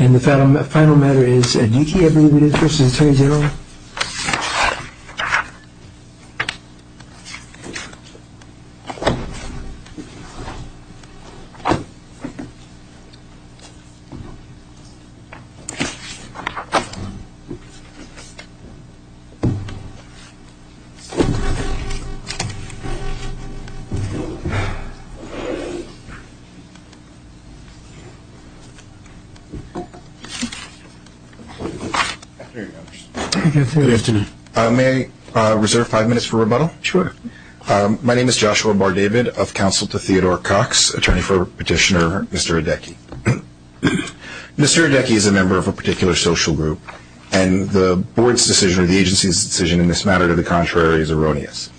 And the final matter is Edeki v. Atty Gen Joshua Bar-David Counsel to Theodore Cox May I reserve five minutes for rebuttal? Sure. My name is Joshua Bar-David of Counsel to Theodore Cox, attorney for petitioner Mr. Edeki. Mr. Edeki is a member of a particular social group, and the board's decision or the agency's decision in this matter to the contrary is erroneous.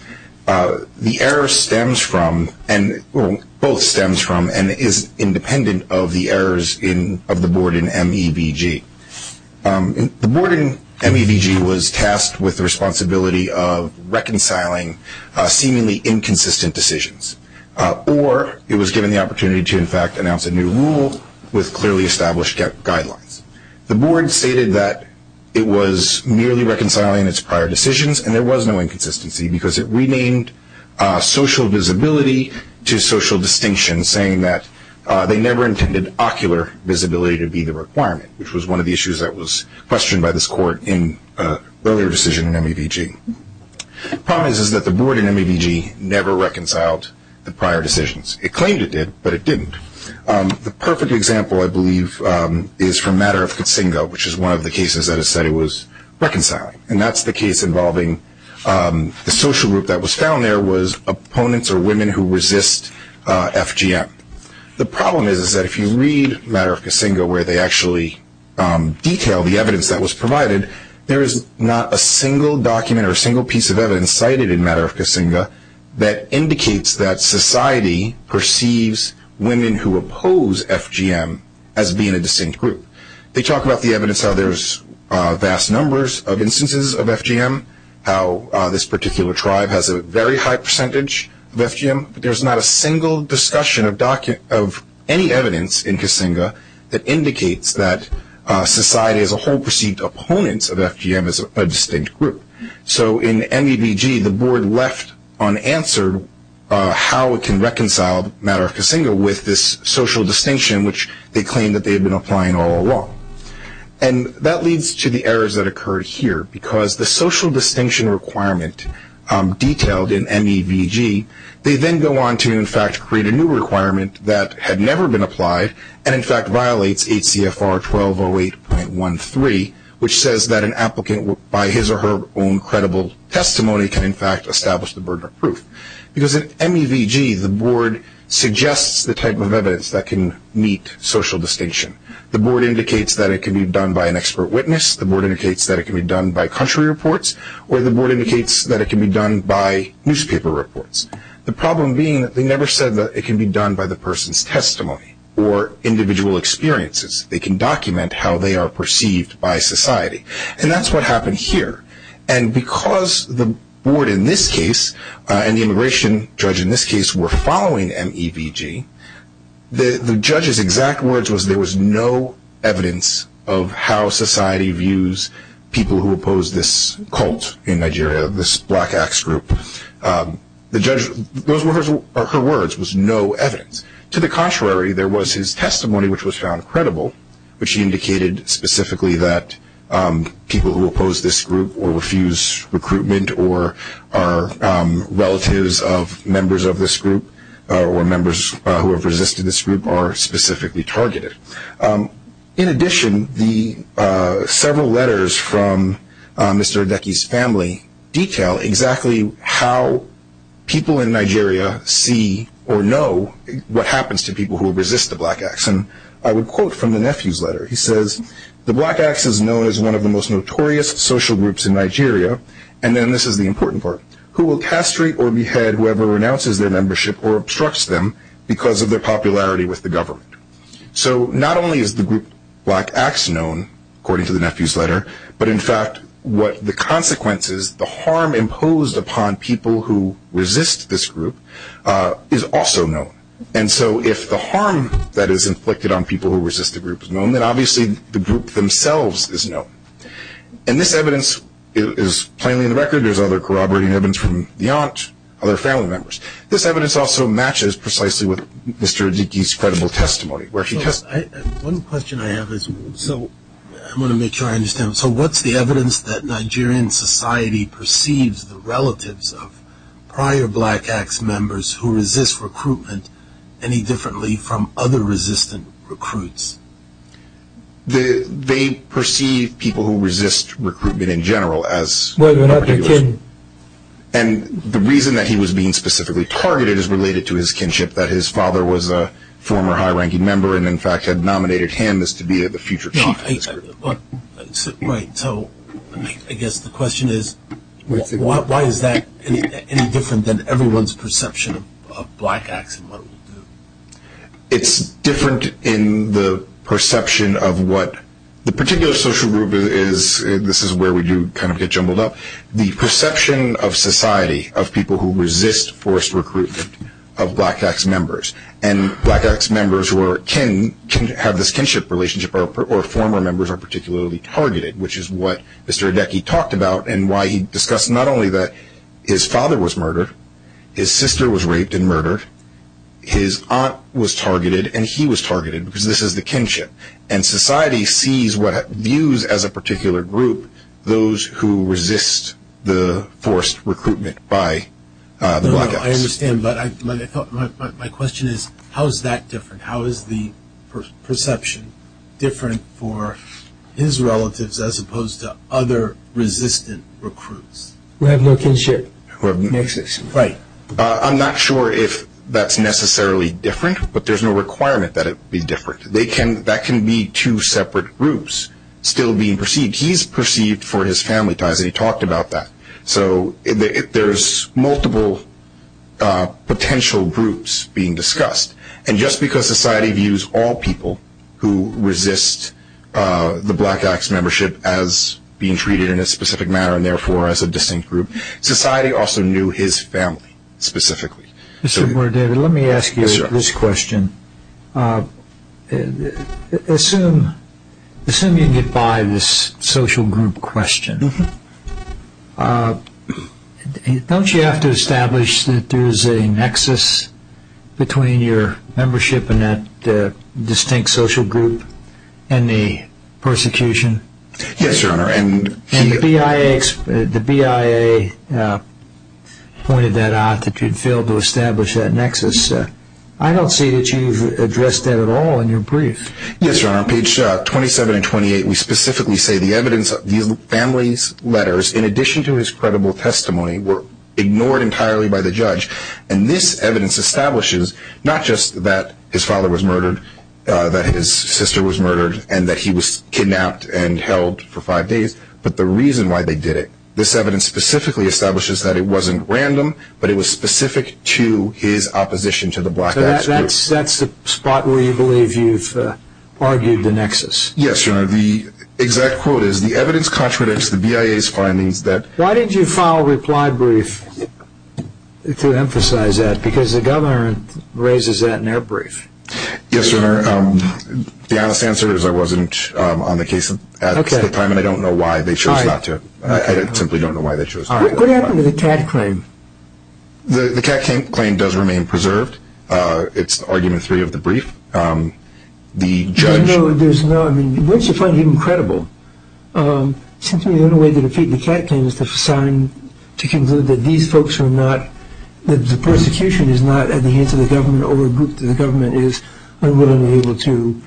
The error stems from and is independent of the errors of the board in MEVG. The board in MEVG was tasked with the responsibility of reconciling seemingly inconsistent decisions, or it was given the opportunity to in fact announce a new rule with clearly established guidelines. The board stated that it was merely reconciling its prior decisions, and there was no inconsistency because it renamed social visibility to social distinction, saying that they never intended ocular visibility to be the requirement, which was one of the issues that was questioned by this court in an earlier decision in MEVG. The problem is that the board in MEVG never reconciled the prior decisions. It claimed it did, but it didn't. The perfect example, I believe, is from Matter of Casinga, which is one of the cases that it said it was reconciling, and that's the case involving the social group that was found there was opponents or women who resist FGM. The problem is that if you read Matter of Casinga, where they actually detail the evidence that was provided, there is not a single document or a single piece of evidence cited in Matter of Casinga that indicates that society perceives women who oppose FGM as being a distinct group. They talk about the evidence, how there's vast numbers of instances of FGM, how this particular tribe has a very high percentage of FGM, but there's not a single discussion of any evidence in Casinga that indicates that society as a whole perceived opponents of FGM as a distinct group. So in MEVG, the board left unanswered how it can reconcile Matter of Casinga with this social distinction, which they claimed that they had been applying all along. And that leads to the errors that occurred here, because the social distinction requirement detailed in MEVG, they then go on to, in fact, create a new requirement that had never been applied and, in fact, violates HCFR 1208.13, which says that an applicant, by his or her own credible testimony, can, in fact, establish the burden of proof. Because in MEVG, the board suggests the type of evidence that can meet social distinction. The board indicates that it can be done by an expert witness. The board indicates that it can be done by country reports. Or the board indicates that it can be done by newspaper reports. The problem being that they never said that it can be done by the person's testimony or individual experiences. They can document how they are perceived by society. And that's what happened here. And because the board in this case and the immigration judge in this case were following MEVG, the judge's exact words was there was no evidence of how society views people who oppose this cult in Nigeria, this Black Axe group. The judge, those were her words, was no evidence. To the contrary, there was his testimony, which was found credible, which indicated specifically that people who oppose this group or refuse recruitment or are relatives of members of this group or members who have resisted this group are specifically targeted. In addition, several letters from Mr. Odeki's family detail exactly how people in Nigeria see or know what happens to people who resist the Black Axe. And I would quote from the nephew's letter. He says, the Black Axe is known as one of the most notorious social groups in Nigeria. And then this is the important part. Who will castrate or behead whoever renounces their membership or obstructs them because of their popularity with the government. So not only is the group Black Axe known, according to the nephew's letter, but in fact what the consequences, the harm imposed upon people who resist this group is also known. And so if the harm that is inflicted on people who resist the group is known, then obviously the group themselves is known. And this evidence is plainly in the record. There's other corroborating evidence from the aunt, other family members. This evidence also matches precisely with Mr. Odeki's credible testimony. One question I have is, so I'm going to make sure I understand. So what's the evidence that Nigerian society perceives the relatives of prior Black Axe members who resist recruitment any differently from other resistant recruits? They perceive people who resist recruitment in general as... And the reason that he was being specifically targeted is related to his kinship, that his father was a former high-ranking member and in fact had nominated him as to be the future chief of this group. So I guess the question is, why is that any different than everyone's perception of Black Axe? It's different in the perception of what the particular social group is. This is where we do kind of get jumbled up. The perception of society of people who resist forced recruitment of Black Axe members and Black Axe members who have this kinship relationship or former members are particularly targeted, which is what Mr. Odeki talked about and why he discussed not only that his father was murdered, his sister was raped and murdered, his aunt was targeted and he was targeted because this is the kinship. And society sees what it views as a particular group, those who resist the forced recruitment by Black Axe. I understand, but my question is, how is that different? How is the perception different for his relatives as opposed to other resistant recruits? Who have no kinship. Right. I'm not sure if that's necessarily different, but there's no requirement that it be different. That can be two separate groups still being perceived. He's perceived for his family ties, and he talked about that. So there's multiple potential groups being discussed. And just because society views all people who resist the Black Axe membership as being treated in a specific manner and therefore as a distinct group, society also knew his family specifically. Let me ask you this question. Assuming you get by this social group question, don't you have to establish that there's a nexus between your membership in that distinct social group and the persecution? Yes, Your Honor. And the BIA pointed that out that you'd failed to establish that nexus. I don't see that you've addressed that at all in your brief. Yes, Your Honor. On pages 27 and 28, we specifically say the evidence of these families' letters, in addition to his credible testimony, were ignored entirely by the judge. And this evidence establishes not just that his father was murdered, that his sister was murdered, and that he was kidnapped and held for five days, but the reason why they did it. This evidence specifically establishes that it wasn't random, but it was specific to his opposition to the Black Axe group. So that's the spot where you believe you've argued the nexus? Yes, Your Honor. The exact quote is, the evidence contradicts the BIA's findings that Why did you file a reply brief to emphasize that? Because the Governor raises that in their brief. Yes, Your Honor. The honest answer is I wasn't on the case at the time, and I don't know why they chose not to. I simply don't know why they chose not to. What happened to the Catt claim? The Catt claim does remain preserved. It's argument three of the brief. The judge No, there's no, I mean, once you find him credible, it seems to me the only way to defeat the Catt claim is to sign, to conclude that these folks are not, that the persecution is not at the hands of the government or a group that the government is unwillingly able to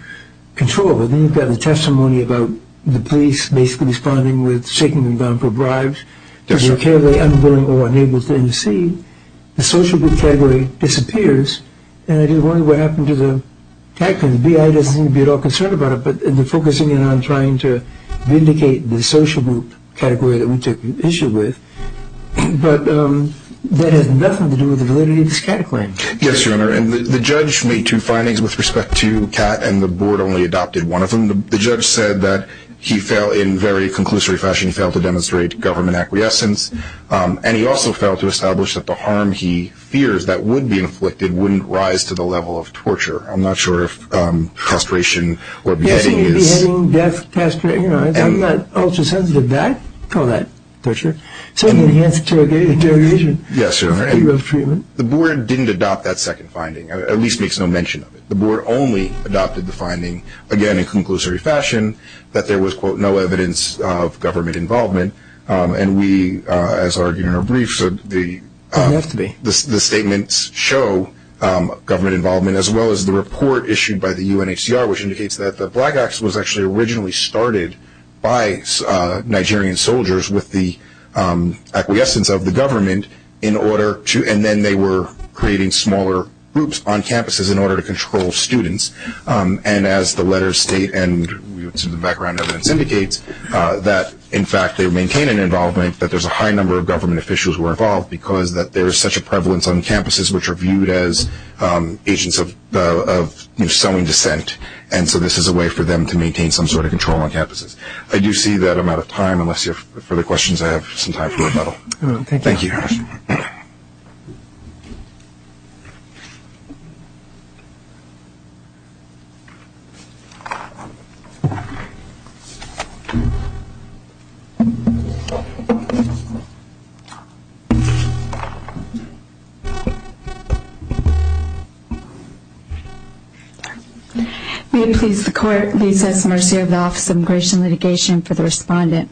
control. But then you've got the testimony about the police basically responding with shaking them down for bribes. Yes, Your Honor. They're unwilling or unable to intercede. The social group category disappears, and I just wonder what happened to the Catt claim. The BIA doesn't seem to be at all concerned about it, but they're focusing in on trying to vindicate the social group category that we took issue with. But that has nothing to do with the validity of the Catt claim. Yes, Your Honor. And the judge made two findings with respect to Catt, and the board only adopted one of them. The judge said that he fell, in very conclusory fashion, he failed to demonstrate government acquiescence, and he also failed to establish that the harm he fears that would be inflicted wouldn't rise to the level of torture. I'm not sure if castration or beheading is Castration, beheading, death, castration, you know, I'm not ultra-sensitive to that, call that torture. Certainly he has interrogation. Yes, Your Honor, and the board didn't adopt that second finding, at least makes no mention of it. The board only adopted the finding, again, in conclusory fashion, that there was, quote, no evidence of government involvement. And we, as argued in our briefs, the statements show government involvement, as well as the report issued by the UNHCR, which indicates that the Black Acts was actually originally started by Nigerian soldiers with the acquiescence of the government in order to, and then they were creating smaller groups on campuses in order to control students. And as the letters state, and the background evidence indicates, that, in fact, they maintain an involvement, that there's a high number of government officials who are involved because there is such a prevalence on campuses which are viewed as agents of, you know, selling dissent. And so this is a way for them to maintain some sort of control on campuses. I do see that I'm out of time. Unless you have further questions, I have some time for rebuttal. Thank you. Thank you, Your Honor. May it please the Court, please have some mercy of the Office of Immigration and Litigation for the respondent.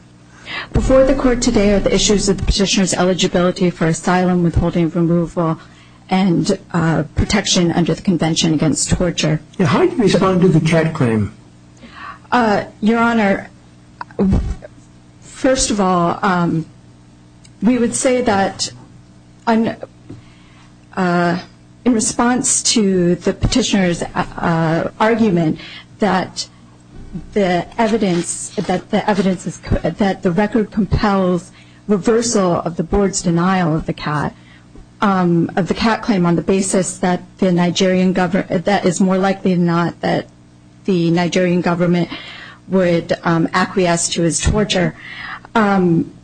Before the Court today are the issues of petitioner's eligibility for asylum, withholding from removal, and protection under the convention against torture. How do you respond to the Chet claim? Your Honor, first of all, the evidence that the record compels reversal of the Board's denial of the CAT claim on the basis that it is more likely than not that the Nigerian government would acquiesce to his torture.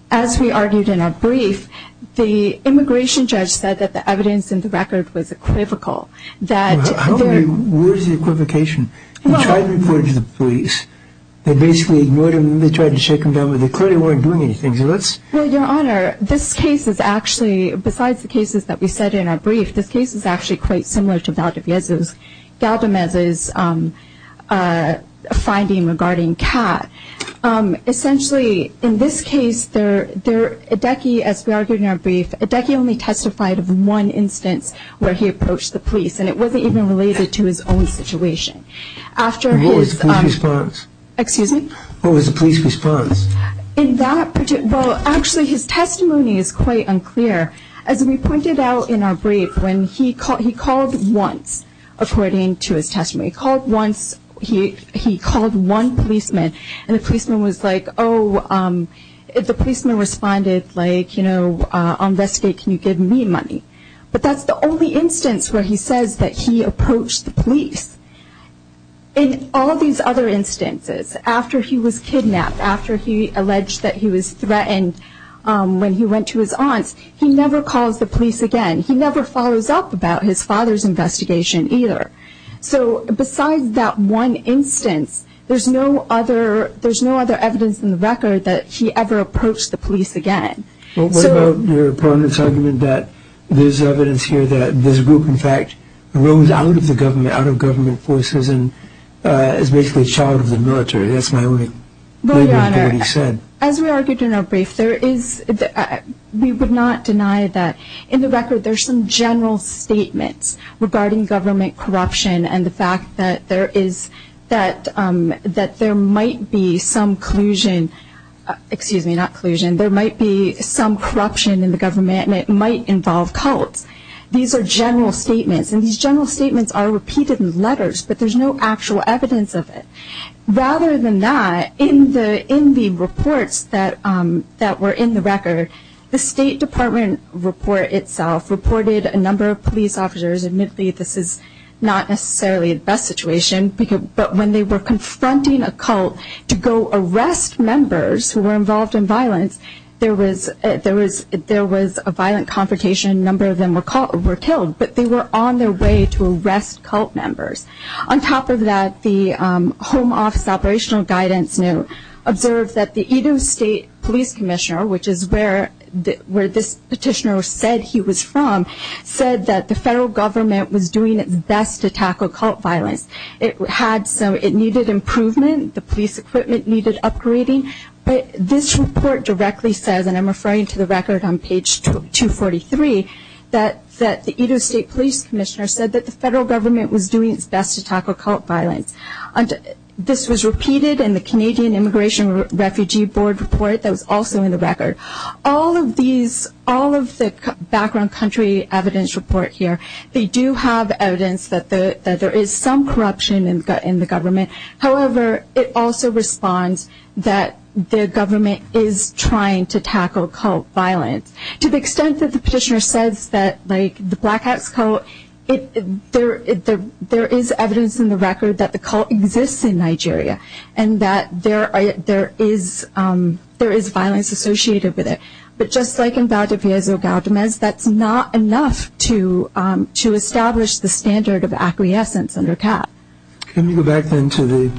As we argued in our brief, the immigration judge said that the evidence in the record was equivocal. Where is the equivocation? He tried to report it to the police, they basically ignored him, they tried to shake him down, but they clearly weren't doing anything. Your Honor, this case is actually, besides the cases that we said in our brief, this case is actually quite similar to Galdamez's finding regarding CAT. Essentially, in this case, Edeki, as we argued in our brief, Edeki only testified of one instance where he approached the police, and it wasn't even related to his own situation. What was the police response? Actually, his testimony is quite unclear. As we pointed out in our brief, he called once, according to his testimony. He called once, he called one policeman, and the policeman was like, oh, the policeman responded like, you know, I'll investigate, can you give me money? But that's the only instance where he says that he approached the police. In all these other instances, after he was kidnapped, after he alleged that he was threatened when he went to his aunts, he never calls the police again, he never follows up about his father's investigation either. So besides that one instance, there's no other evidence in the record that he ever approached the police again. What about your opponent's argument that there's evidence here that this group, in fact, rose out of the government, out of government forces, and is basically a child of the military? That's my only reading of what he said. As we argued in our brief, we would not deny that. In the record, there's some general statements regarding government corruption and the fact that there might be some collusion, excuse me, not collusion, there might be some corruption in the government, and it might involve cults. These are general statements, and these general statements are repeated in letters, but there's no actual evidence of it. Rather than that, in the reports that were in the record, the State Department report itself reported a number of police officers, admittedly this is not necessarily the best situation, but when they were confronting a cult to go arrest members who were involved in violence, there was a violent confrontation, a number of them were killed, but they were on their way to arrest cult members. On top of that, the Home Office Operational Guidance Note observed that the Edo State Police Commissioner, which is where this petitioner said he was from, said that the federal government was doing its best to tackle cult violence. It had some, it needed improvement, the police equipment needed upgrading, but this report directly says, and I'm referring to the record on page 243, that the Edo State Police Commissioner said that the federal government was doing its best to tackle cult violence. This was repeated in the Canadian Immigration Refugee Board report that was also in the record. All of these, all of the background country evidence report here, they do have evidence that there is some corruption in the government. However, it also responds that the government is trying to tackle cult violence. To the extent that the petitioner says that, like, the Black Acts cult, there is evidence in the record that the cult exists in Nigeria and that there is violence associated with it. But just like in Valdiviezo Galdamez, that's not enough to establish the standard of acquiescence under CAP. Let me go back then to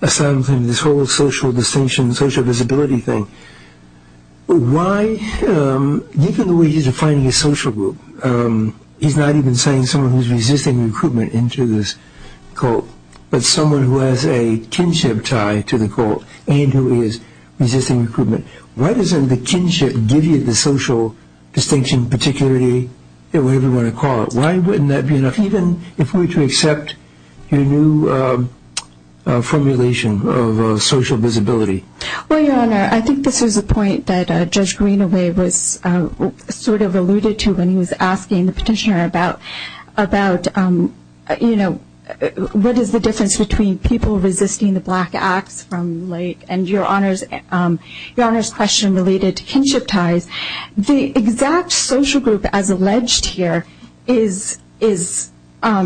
this whole social distinction, social visibility thing. Why, even the way he's defining a social group, he's not even saying someone who's resisting recruitment into this cult, but someone who has a kinship tie to the cult and who is resisting recruitment. Why doesn't the kinship give you the social distinction, particularity, whatever you want to call it? Why wouldn't that be enough, even if we were to accept your new formulation of social visibility? Well, Your Honor, I think this is a point that Judge Greenaway was sort of alluded to when he was asking the petitioner about, you know, what is the difference between people resisting the Black Acts from, like, and Your Honor's question related to kinship ties. The exact social group as alleged here is a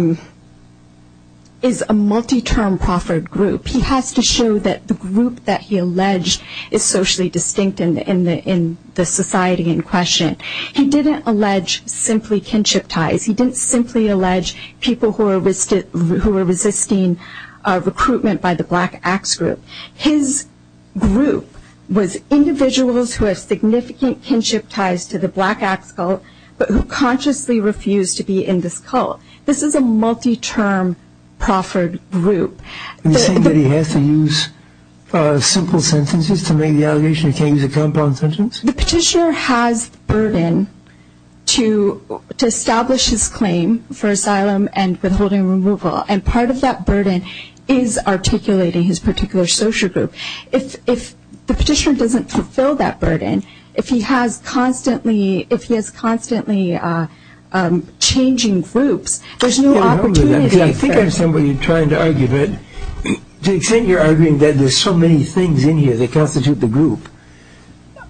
multi-term proffered group. He has to show that the group that he alleged is socially distinct in the society in question. He didn't allege simply kinship ties. He didn't simply allege people who were resisting recruitment by the Black Acts group. His group was individuals who had significant kinship ties to the Black Acts cult, but who consciously refused to be in this cult. This is a multi-term proffered group. Are you saying that he has to use simple sentences to make the allegation? He can't use a compound sentence? The petitioner has the burden to establish his claim for asylum and withholding removal, and part of that burden is articulating his particular social group. If the petitioner doesn't fulfill that burden, if he has constantly changing groups, there's no opportunity. I think I'm somebody trying to argue that, to the extent you're arguing that there's so many things in here that constitute the group,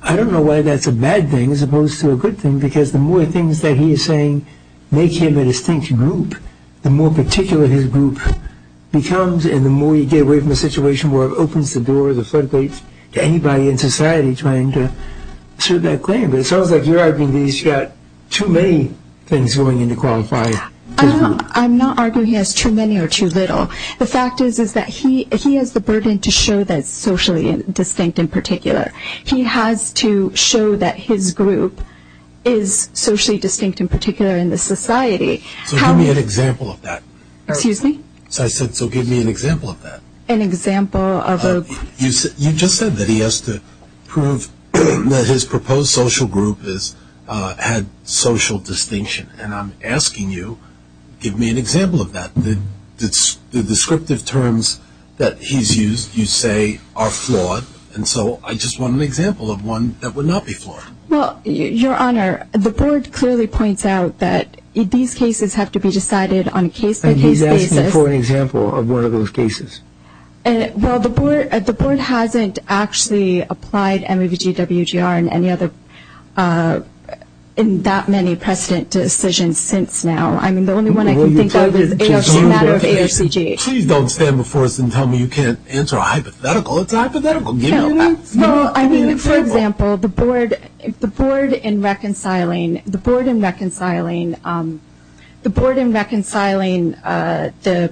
I don't know why that's a bad thing as opposed to a good thing, because the more things that he is saying make him a distinct group, the more particular his group becomes, and the more you get away from a situation where it opens the door, the floodgates to anybody in society trying to assert that claim. But it sounds like you're arguing that he's got too many things going in to qualify his group. I'm not arguing he has too many or too little. The fact is that he has the burden to show that he's socially distinct in particular. He has to show that his group is socially distinct in particular in the society. So give me an example of that. Excuse me? So I said, so give me an example of that. An example of a group. You just said that he has to prove that his proposed social group had social distinction, and I'm asking you, give me an example of that. The descriptive terms that he's used, you say, are flawed, and so I just want an example of one that would not be flawed. Well, Your Honor, the Board clearly points out that these cases have to be decided on a case-by-case basis. He's asking for an example of one of those cases. Well, the Board hasn't actually applied MAVG, WGR, and any other in that many precedent decisions since now. I mean, the only one I can think of is the matter of ARCG. Please don't stand before us and tell me you can't answer a hypothetical. It's a hypothetical. Well, I mean, for example, the Board in reconciling the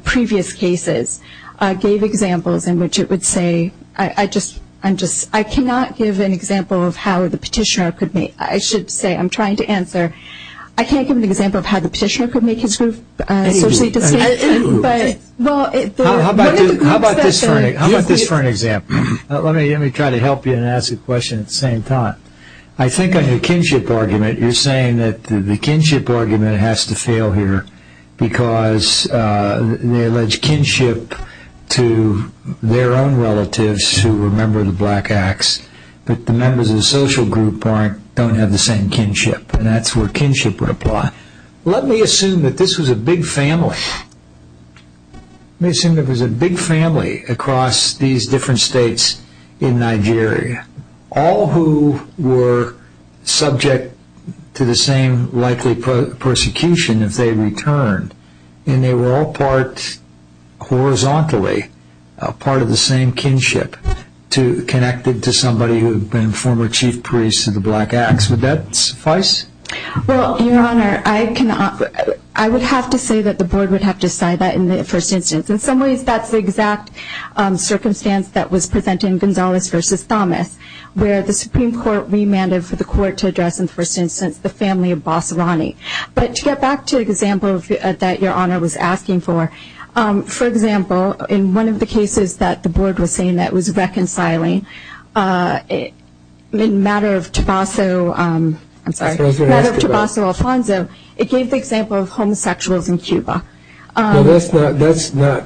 previous cases gave examples in which it would say, I'm just, I cannot give an example of how the petitioner could make, I should say, I'm trying to answer, I can't give an example of how the petitioner could make his group socially distinct. How about this for an example? Let me try to help you and ask a question at the same time. I think on your kinship argument, you're saying that the kinship argument has to fail here because they allege kinship to their own relatives who were a member of the Black Acts, but the members of the social group don't have the same kinship, and that's where kinship would apply. Let me assume that this was a big family. Let me assume there was a big family across these different states in Nigeria, all who were subject to the same likely persecution if they returned, and they were all part, horizontally, part of the same kinship, connected to somebody who had been a former chief priest of the Black Acts. Would that suffice? Well, Your Honor, I would have to say that the board would have to decide that in the first instance. In some ways, that's the exact circumstance that was presented in Gonzales v. Thomas, where the Supreme Court remanded for the court to address, in the first instance, the family of Bassarani. But to get back to the example that Your Honor was asking for, for example, in one of the cases that the board was saying that was reconciling, in the matter of Tobasso Alfonso, it gave the example of homosexuals in Cuba. Well, that's not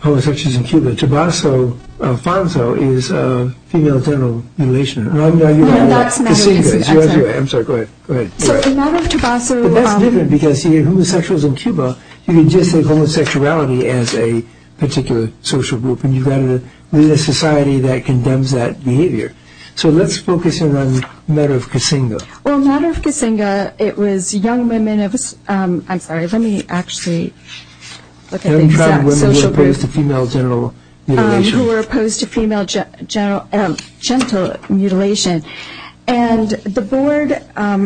homosexuals in Cuba. Tobasso Alfonso is a female genital mutilation. No, that's not what I said. I'm sorry. Go ahead. But that's different, because if you have homosexuals in Cuba, you can just say homosexuality as a particular social group, and you've got to lead a society that condemns that behavior. So let's focus in on the matter of Kasinga. Well, the matter of Kasinga, it was young women of – I'm sorry. Let me actually look at the exact social group. Young tribal women who were opposed to female genital mutilation. Who were opposed to female genital mutilation. And the board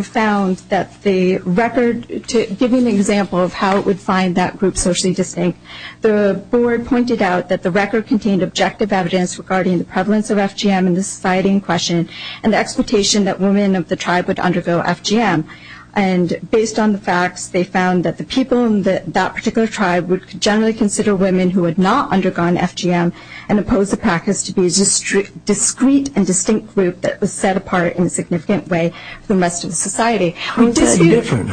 found that the record – to give you an example of how it would find that group socially distinct, the board pointed out that the record contained objective evidence regarding the prevalence of FGM in the society in question and the expectation that women of the tribe would undergo FGM. And based on the facts, they found that the people in that particular tribe would generally consider women who had not undergone FGM and opposed the practice to be a discrete and distinct group that was set apart in a significant way from the rest of the society. How is that different?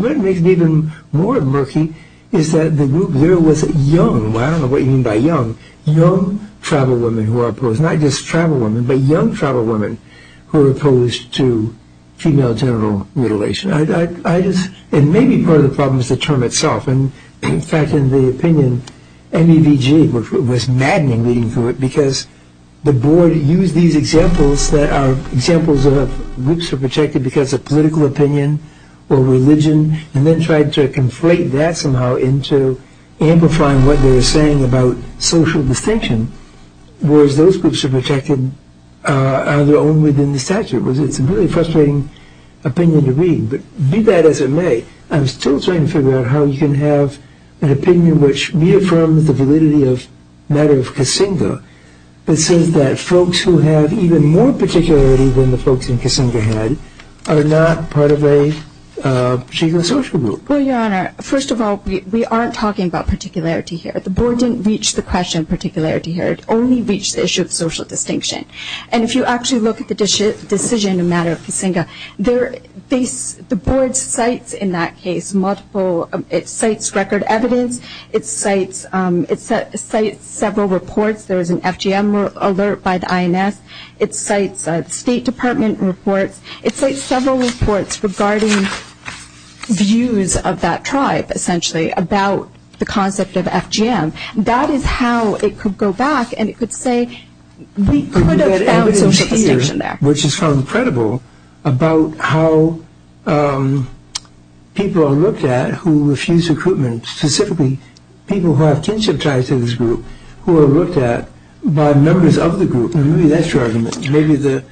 What makes it even more murky is that the group there was young – I don't know what you mean by young – young tribal women who were opposed. Not just tribal women, but young tribal women who were opposed to female genital mutilation. I just – and maybe part of the problem is the term itself. In fact, in the opinion, MEVG was maddening leading to it because the board used these examples that are examples of groups who are protected because of political opinion or religion and then tried to conflate that somehow into amplifying what they were saying about social distinction, whereas those groups are protected on their own within the statute. It's a really frustrating opinion to read, but be that as it may, I'm still trying to figure out how you can have an opinion which reaffirms the validity of the matter of Kasinga that says that folks who have even more particularity than the folks in Kasinga had are not part of a particular social group. Well, Your Honor, first of all, we aren't talking about particularity here. The board didn't reach the question of particularity here. It only reached the issue of social distinction. And if you actually look at the decision in the matter of Kasinga, the board cites in that case multiple – it cites record evidence. It cites several reports. There was an FGM alert by the INS. It cites State Department reports. It cites several reports regarding views of that tribe, essentially, about the concept of FGM. That is how it could go back and it could say we could have found social distinction there. But we have evidence here, which is quite incredible, about how people are looked at who refuse recruitment, specifically people who have kinship ties to this group, who are looked at by members of the group. Maybe that's your argument. Maybe the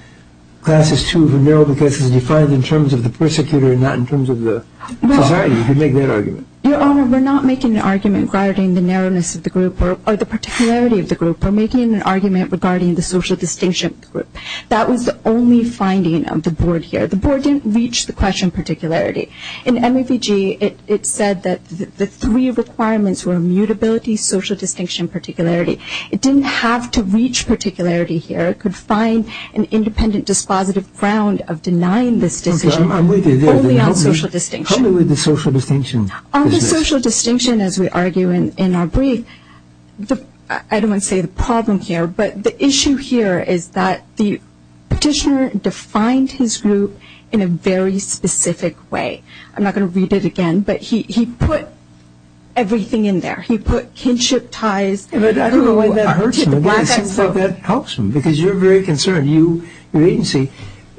class is too narrow because it's defined in terms of the persecutor and not in terms of the society. You could make that argument. Your Honor, we're not making an argument regarding the narrowness of the group or the particularity of the group. We're making an argument regarding the social distinction of the group. That was the only finding of the board here. The board didn't reach the question of particularity. In MAVG, it said that the three requirements were immutability, social distinction, and particularity. It didn't have to reach particularity here. It could find an independent dispositive ground of denying this decision only on social distinction. Help me with the social distinction. On the social distinction, as we argue in our brief, I don't want to say the problem here, but the issue here is that the petitioner defined his group in a very specific way. I'm not going to read it again, but he put everything in there. He put kinship ties. I don't know why that helps him because you're very concerned. Your agency,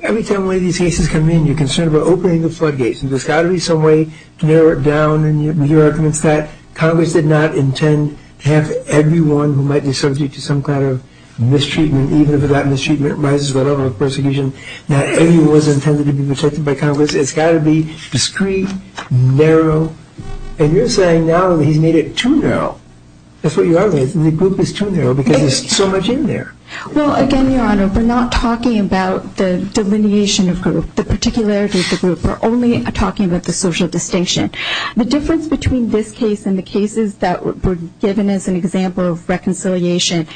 every time one of these cases come in, you're concerned about opening the floodgates. There's got to be some way to narrow it down. Your argument is that Congress did not intend to have everyone who might be subject to some kind of mistreatment, even if that mistreatment rises, whatever, with persecution, that everyone was intended to be protected by Congress. It's got to be discreet, narrow. And you're saying now that he's made it too narrow. That's what you're arguing. The group is too narrow because there's so much in there. Well, again, Your Honor, we're not talking about the delineation of group, the particularity of the group. We're only talking about the social distinction. The difference between this case and the cases that were given as an example of reconciliation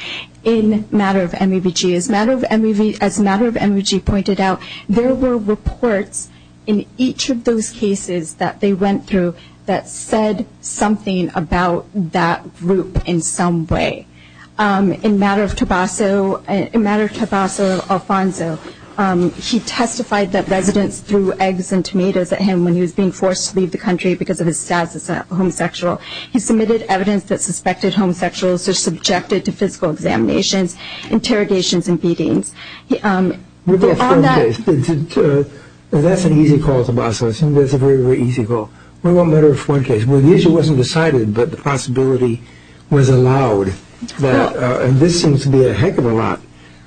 in matter of MAVG is, as matter of MAVG pointed out, there were reports in each of those cases that they went through that said something about that group in some way. In matter of Tobasso Alfonso, he testified that residents threw eggs and tomatoes at him when he was being forced to leave the country because of his status as a homosexual. He submitted evidence that suspected homosexuals are subjected to physical examinations, interrogations, and beatings. That's an easy call, Tobasso. I think that's a very, very easy call. What about matter of one case where the issue wasn't decided but the possibility was allowed? This seems to be a heck of a lot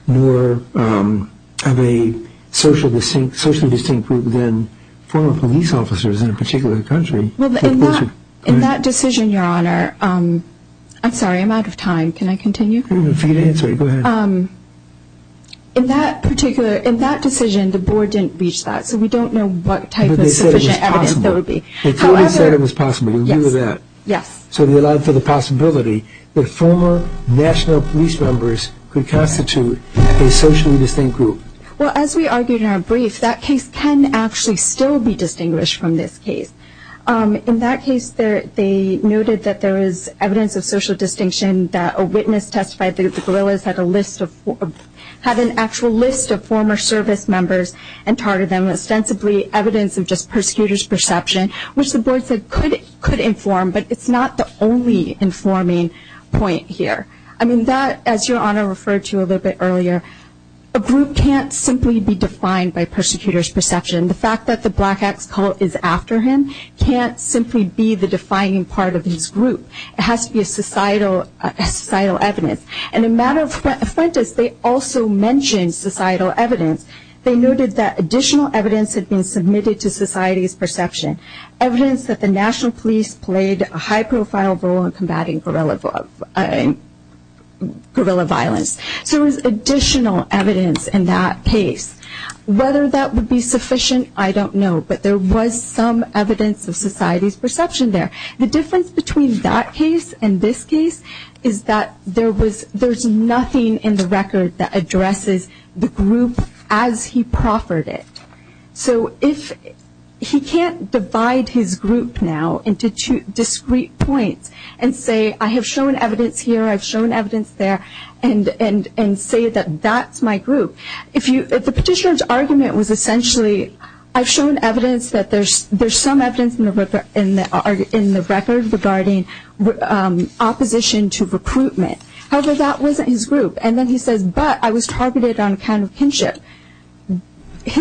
more of a socially distinct group than former police officers in a particular country. Well, in that decision, Your Honor, I'm sorry, I'm out of time. Can I continue? Go ahead. In that decision, the board didn't reach that, so we don't know what type of sufficient evidence there would be. The board said it was possible to do that. Yes. So they allowed for the possibility that former national police members could constitute a socially distinct group. Well, as we argued in our brief, that case can actually still be distinguished from this case. In that case, they noted that there is evidence of social distinction, that a witness testified that the guerrillas had an actual list of former service members and targeted them ostensibly evidence of just persecutors' perception, which the board said could inform, but it's not the only informing point here. I mean, that, as Your Honor referred to a little bit earlier, a group can't simply be defined by persecutors' perception. The fact that the black ex-cult is after him can't simply be the defining part of his group. It has to be a societal evidence. And in matter of frontis, they also mentioned societal evidence. They noted that additional evidence had been submitted to society's perception, evidence that the national police played a high-profile role in combating guerrilla violence. So there was additional evidence in that case. Whether that would be sufficient, I don't know, but there was some evidence of society's perception there. The difference between that case and this case is that there's nothing in the record that addresses the group as he proffered it. So if he can't divide his group now into two discrete points and say, I have shown evidence here, I've shown evidence there, and say that that's my group. If the petitioner's argument was essentially, I've shown evidence that there's some evidence in the record regarding opposition to recruitment. However, that wasn't his group. And then he says, but I was targeted on account of kinship. I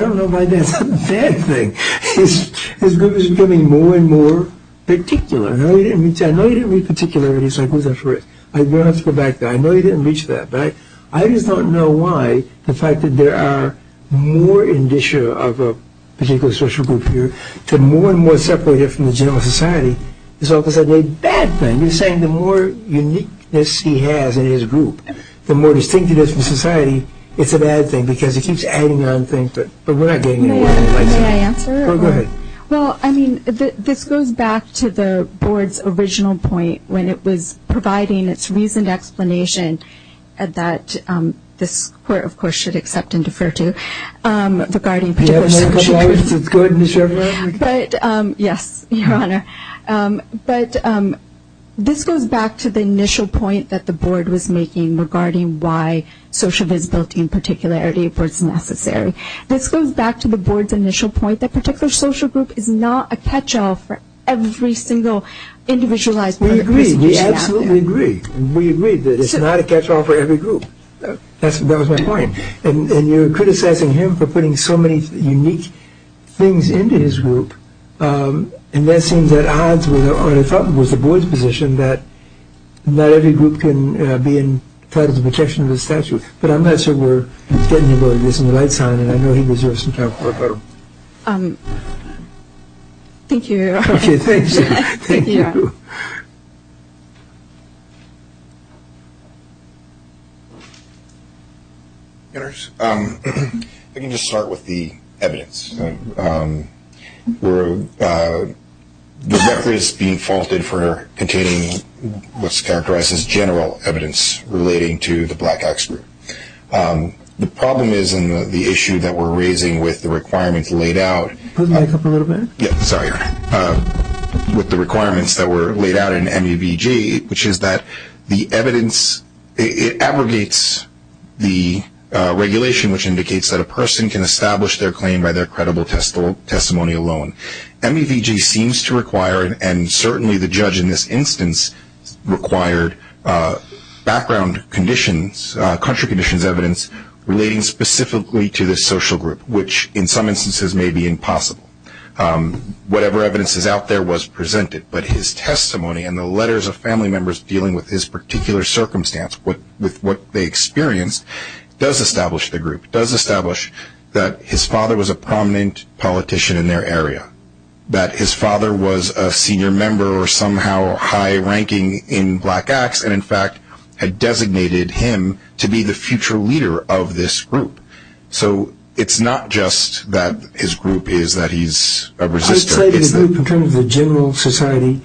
don't know why that's a bad thing. His group is becoming more and more particular. No, he didn't reach that. No, he didn't reach particularity. I don't have to go back there. I know he didn't reach that. But I just don't know why the fact that there are more in the issue of a particular social group here to more and more separate it from the general society is all of a sudden a bad thing. You're saying the more uniqueness he has in his group, the more distinct it is from society, it's a bad thing because he keeps adding on things, but we're not getting anywhere. May I answer? Go ahead. Well, I mean, this goes back to the board's original point when it was providing its reasoned explanation that this court, of course, should accept and defer to regarding particular social groups. Go ahead, Ms. Shepard. Yes, Your Honor. But this goes back to the initial point that the board was making regarding why social visibility and particularity was necessary. This goes back to the board's initial point that particular social group is not a catch-all for every single individualized group. We agree. We absolutely agree. We agree that it's not a catch-all for every group. That was my point. And you're criticizing him for putting so many unique things into his group, and that seems at odds with the board's position that not every group can be entitled to the protection of the statute. But I'm not sure we're getting anywhere. This is a light sign, and I know he deserves some time to work on it. Thank you, Your Honor. Thank you. Thank you. I can just start with the evidence. The record is being faulted for containing what's characterized as general evidence relating to the Black Acts group. The problem is in the issue that we're raising with the requirements laid out. Put the mic up a little bit. Sorry, Your Honor. With the requirements that were laid out in MEVG, which is that the evidence, it abrogates the regulation which indicates that a person can establish their claim by their credible testimony alone. MEVG seems to require, and certainly the judge in this instance required, background conditions, evidence relating specifically to this social group, which in some instances may be impossible. Whatever evidence is out there was presented, but his testimony and the letters of family members dealing with his particular circumstance, with what they experienced, does establish the group, does establish that his father was a prominent politician in their area, that his father was a senior member or somehow high ranking in Black Acts, and in fact had designated him to be the future leader of this group. So it's not just that his group is that he's a resister. In terms of the general society,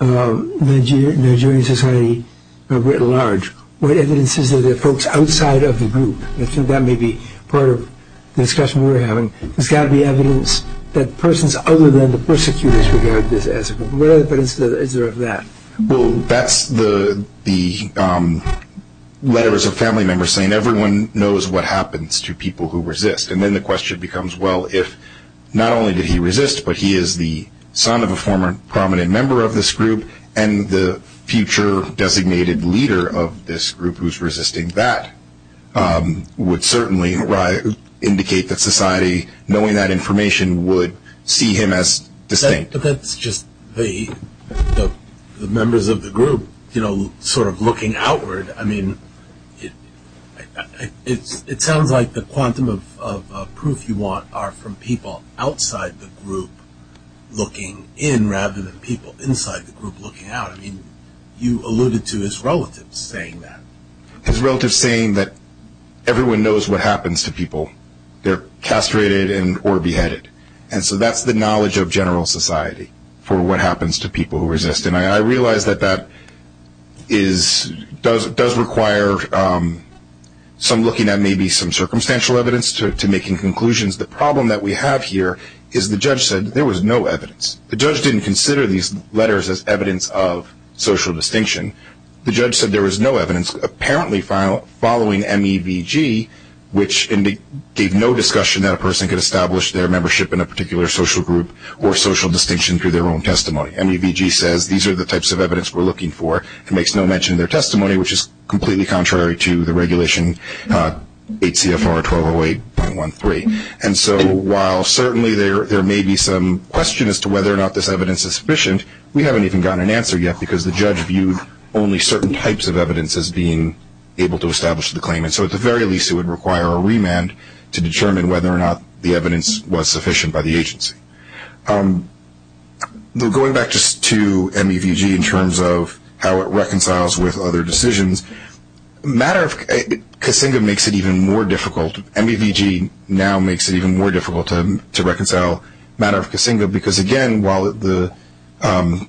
Nigerian society writ large, what evidence is there of folks outside of the group? I think that may be part of the discussion we're having. There's got to be evidence that persons other than the persecutors regard this as a group. What other evidence is there of that? Well, that's the letters of family members saying everyone knows what happens to people who resist. And then the question becomes, well, if not only did he resist, but he is the son of a former prominent member of this group, and the future designated leader of this group who's resisting that, would certainly indicate that society, knowing that information, would see him as distinct. Right, but that's just the members of the group sort of looking outward. I mean, it sounds like the quantum of proof you want are from people outside the group looking in, rather than people inside the group looking out. I mean, you alluded to his relatives saying that. His relatives saying that everyone knows what happens to people. They're castrated or beheaded. And so that's the knowledge of general society for what happens to people who resist. And I realize that that does require some looking at maybe some circumstantial evidence to making conclusions. The problem that we have here is the judge said there was no evidence. The judge didn't consider these letters as evidence of social distinction. The judge said there was no evidence, apparently following MEVG, which gave no discussion that a person could establish their membership in a particular social group or social distinction through their own testimony. MEVG says these are the types of evidence we're looking for. It makes no mention of their testimony, which is completely contrary to the regulation 8 CFR 1208.13. And so while certainly there may be some question as to whether or not this evidence is sufficient, we haven't even gotten an answer yet, because the judge viewed only certain types of evidence as being able to establish the claim. And so at the very least, it would require a remand to determine whether or not the evidence was sufficient by the agency. Going back just to MEVG in terms of how it reconciles with other decisions, matter of Kasinga makes it even more difficult. MEVG now makes it even more difficult to reconcile matter of Kasinga because, again, while the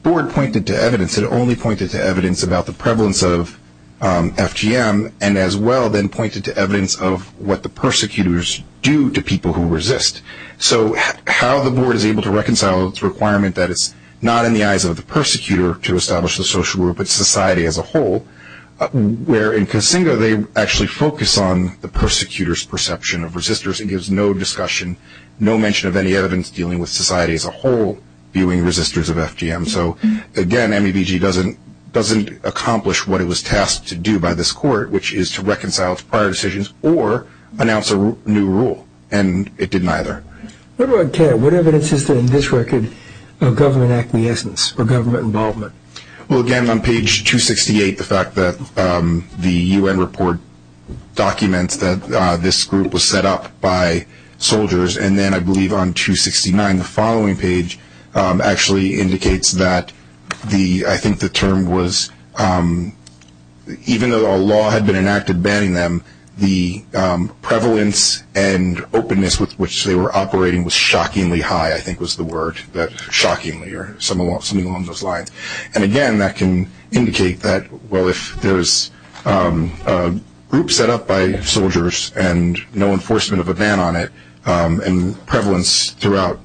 board pointed to evidence, it only pointed to evidence about the prevalence of FGM and as well then pointed to evidence of what the persecutors do to people who resist. So how the board is able to reconcile its requirement that it's not in the eyes of the persecutor to establish the social group but society as a whole, where in Kasinga they actually focus on the persecutor's perception of resistors, it gives no discussion, no mention of any evidence dealing with society as a whole viewing resistors of FGM. So, again, MEVG doesn't accomplish what it was tasked to do by this court, which is to reconcile its prior decisions or announce a new rule, and it didn't either. What evidence is there in this record of government acquiescence or government involvement? Well, again, on page 268, the fact that the U.N. report documents that this group was set up by soldiers, and then I believe on 269, the following page actually indicates that the, I think the term was, even though a law had been enacted banning them, the prevalence and openness with which they were operating was shockingly high, I think was the word, shockingly, or something along those lines. And, again, that can indicate that, well, if there's a group set up by soldiers and no enforcement of a ban on it, and prevalence throughout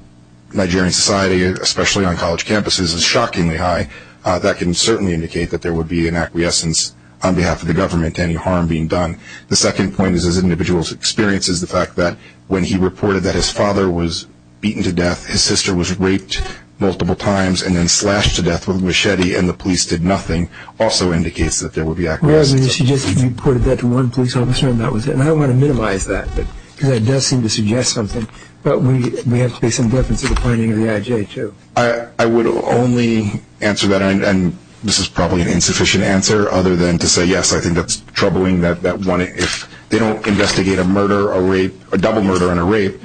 Nigerian society, especially on college campuses, is shockingly high, that can certainly indicate that there would be an acquiescence on behalf of the government to any harm being done. The second point is as individuals experiences the fact that when he reported that his father was beaten to death, his sister was raped multiple times and then slashed to death with a machete and the police did nothing also indicates that there would be acquiescence. Well, I mean, you suggested you reported that to one police officer and that was it, and I want to minimize that because that does seem to suggest something, but we have to make some difference in the finding of the IJ, too. I would only answer that, and this is probably an insufficient answer, other than to say yes, I think that's troubling that if they don't investigate a murder, a rape, a double murder and a rape,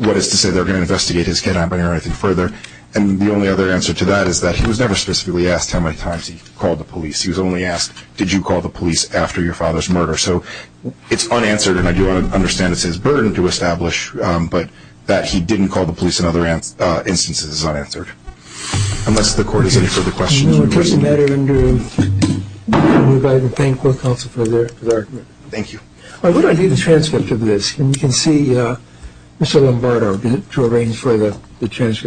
what is to say they're going to investigate his kidnapping or anything further? And the only other answer to that is that he was never specifically asked how many times he called the police. He was only asked, did you call the police after your father's murder? So it's unanswered, and I do understand it's his burden to establish, but that he didn't call the police in other instances is unanswered. Unless the court has any further questions. No, it doesn't matter, Andrew. We would like to thank the court counsel for their argument. Thank you. Why don't I do the transcript of this, and you can see, Mr. Lombardo, to arrange for the transcript.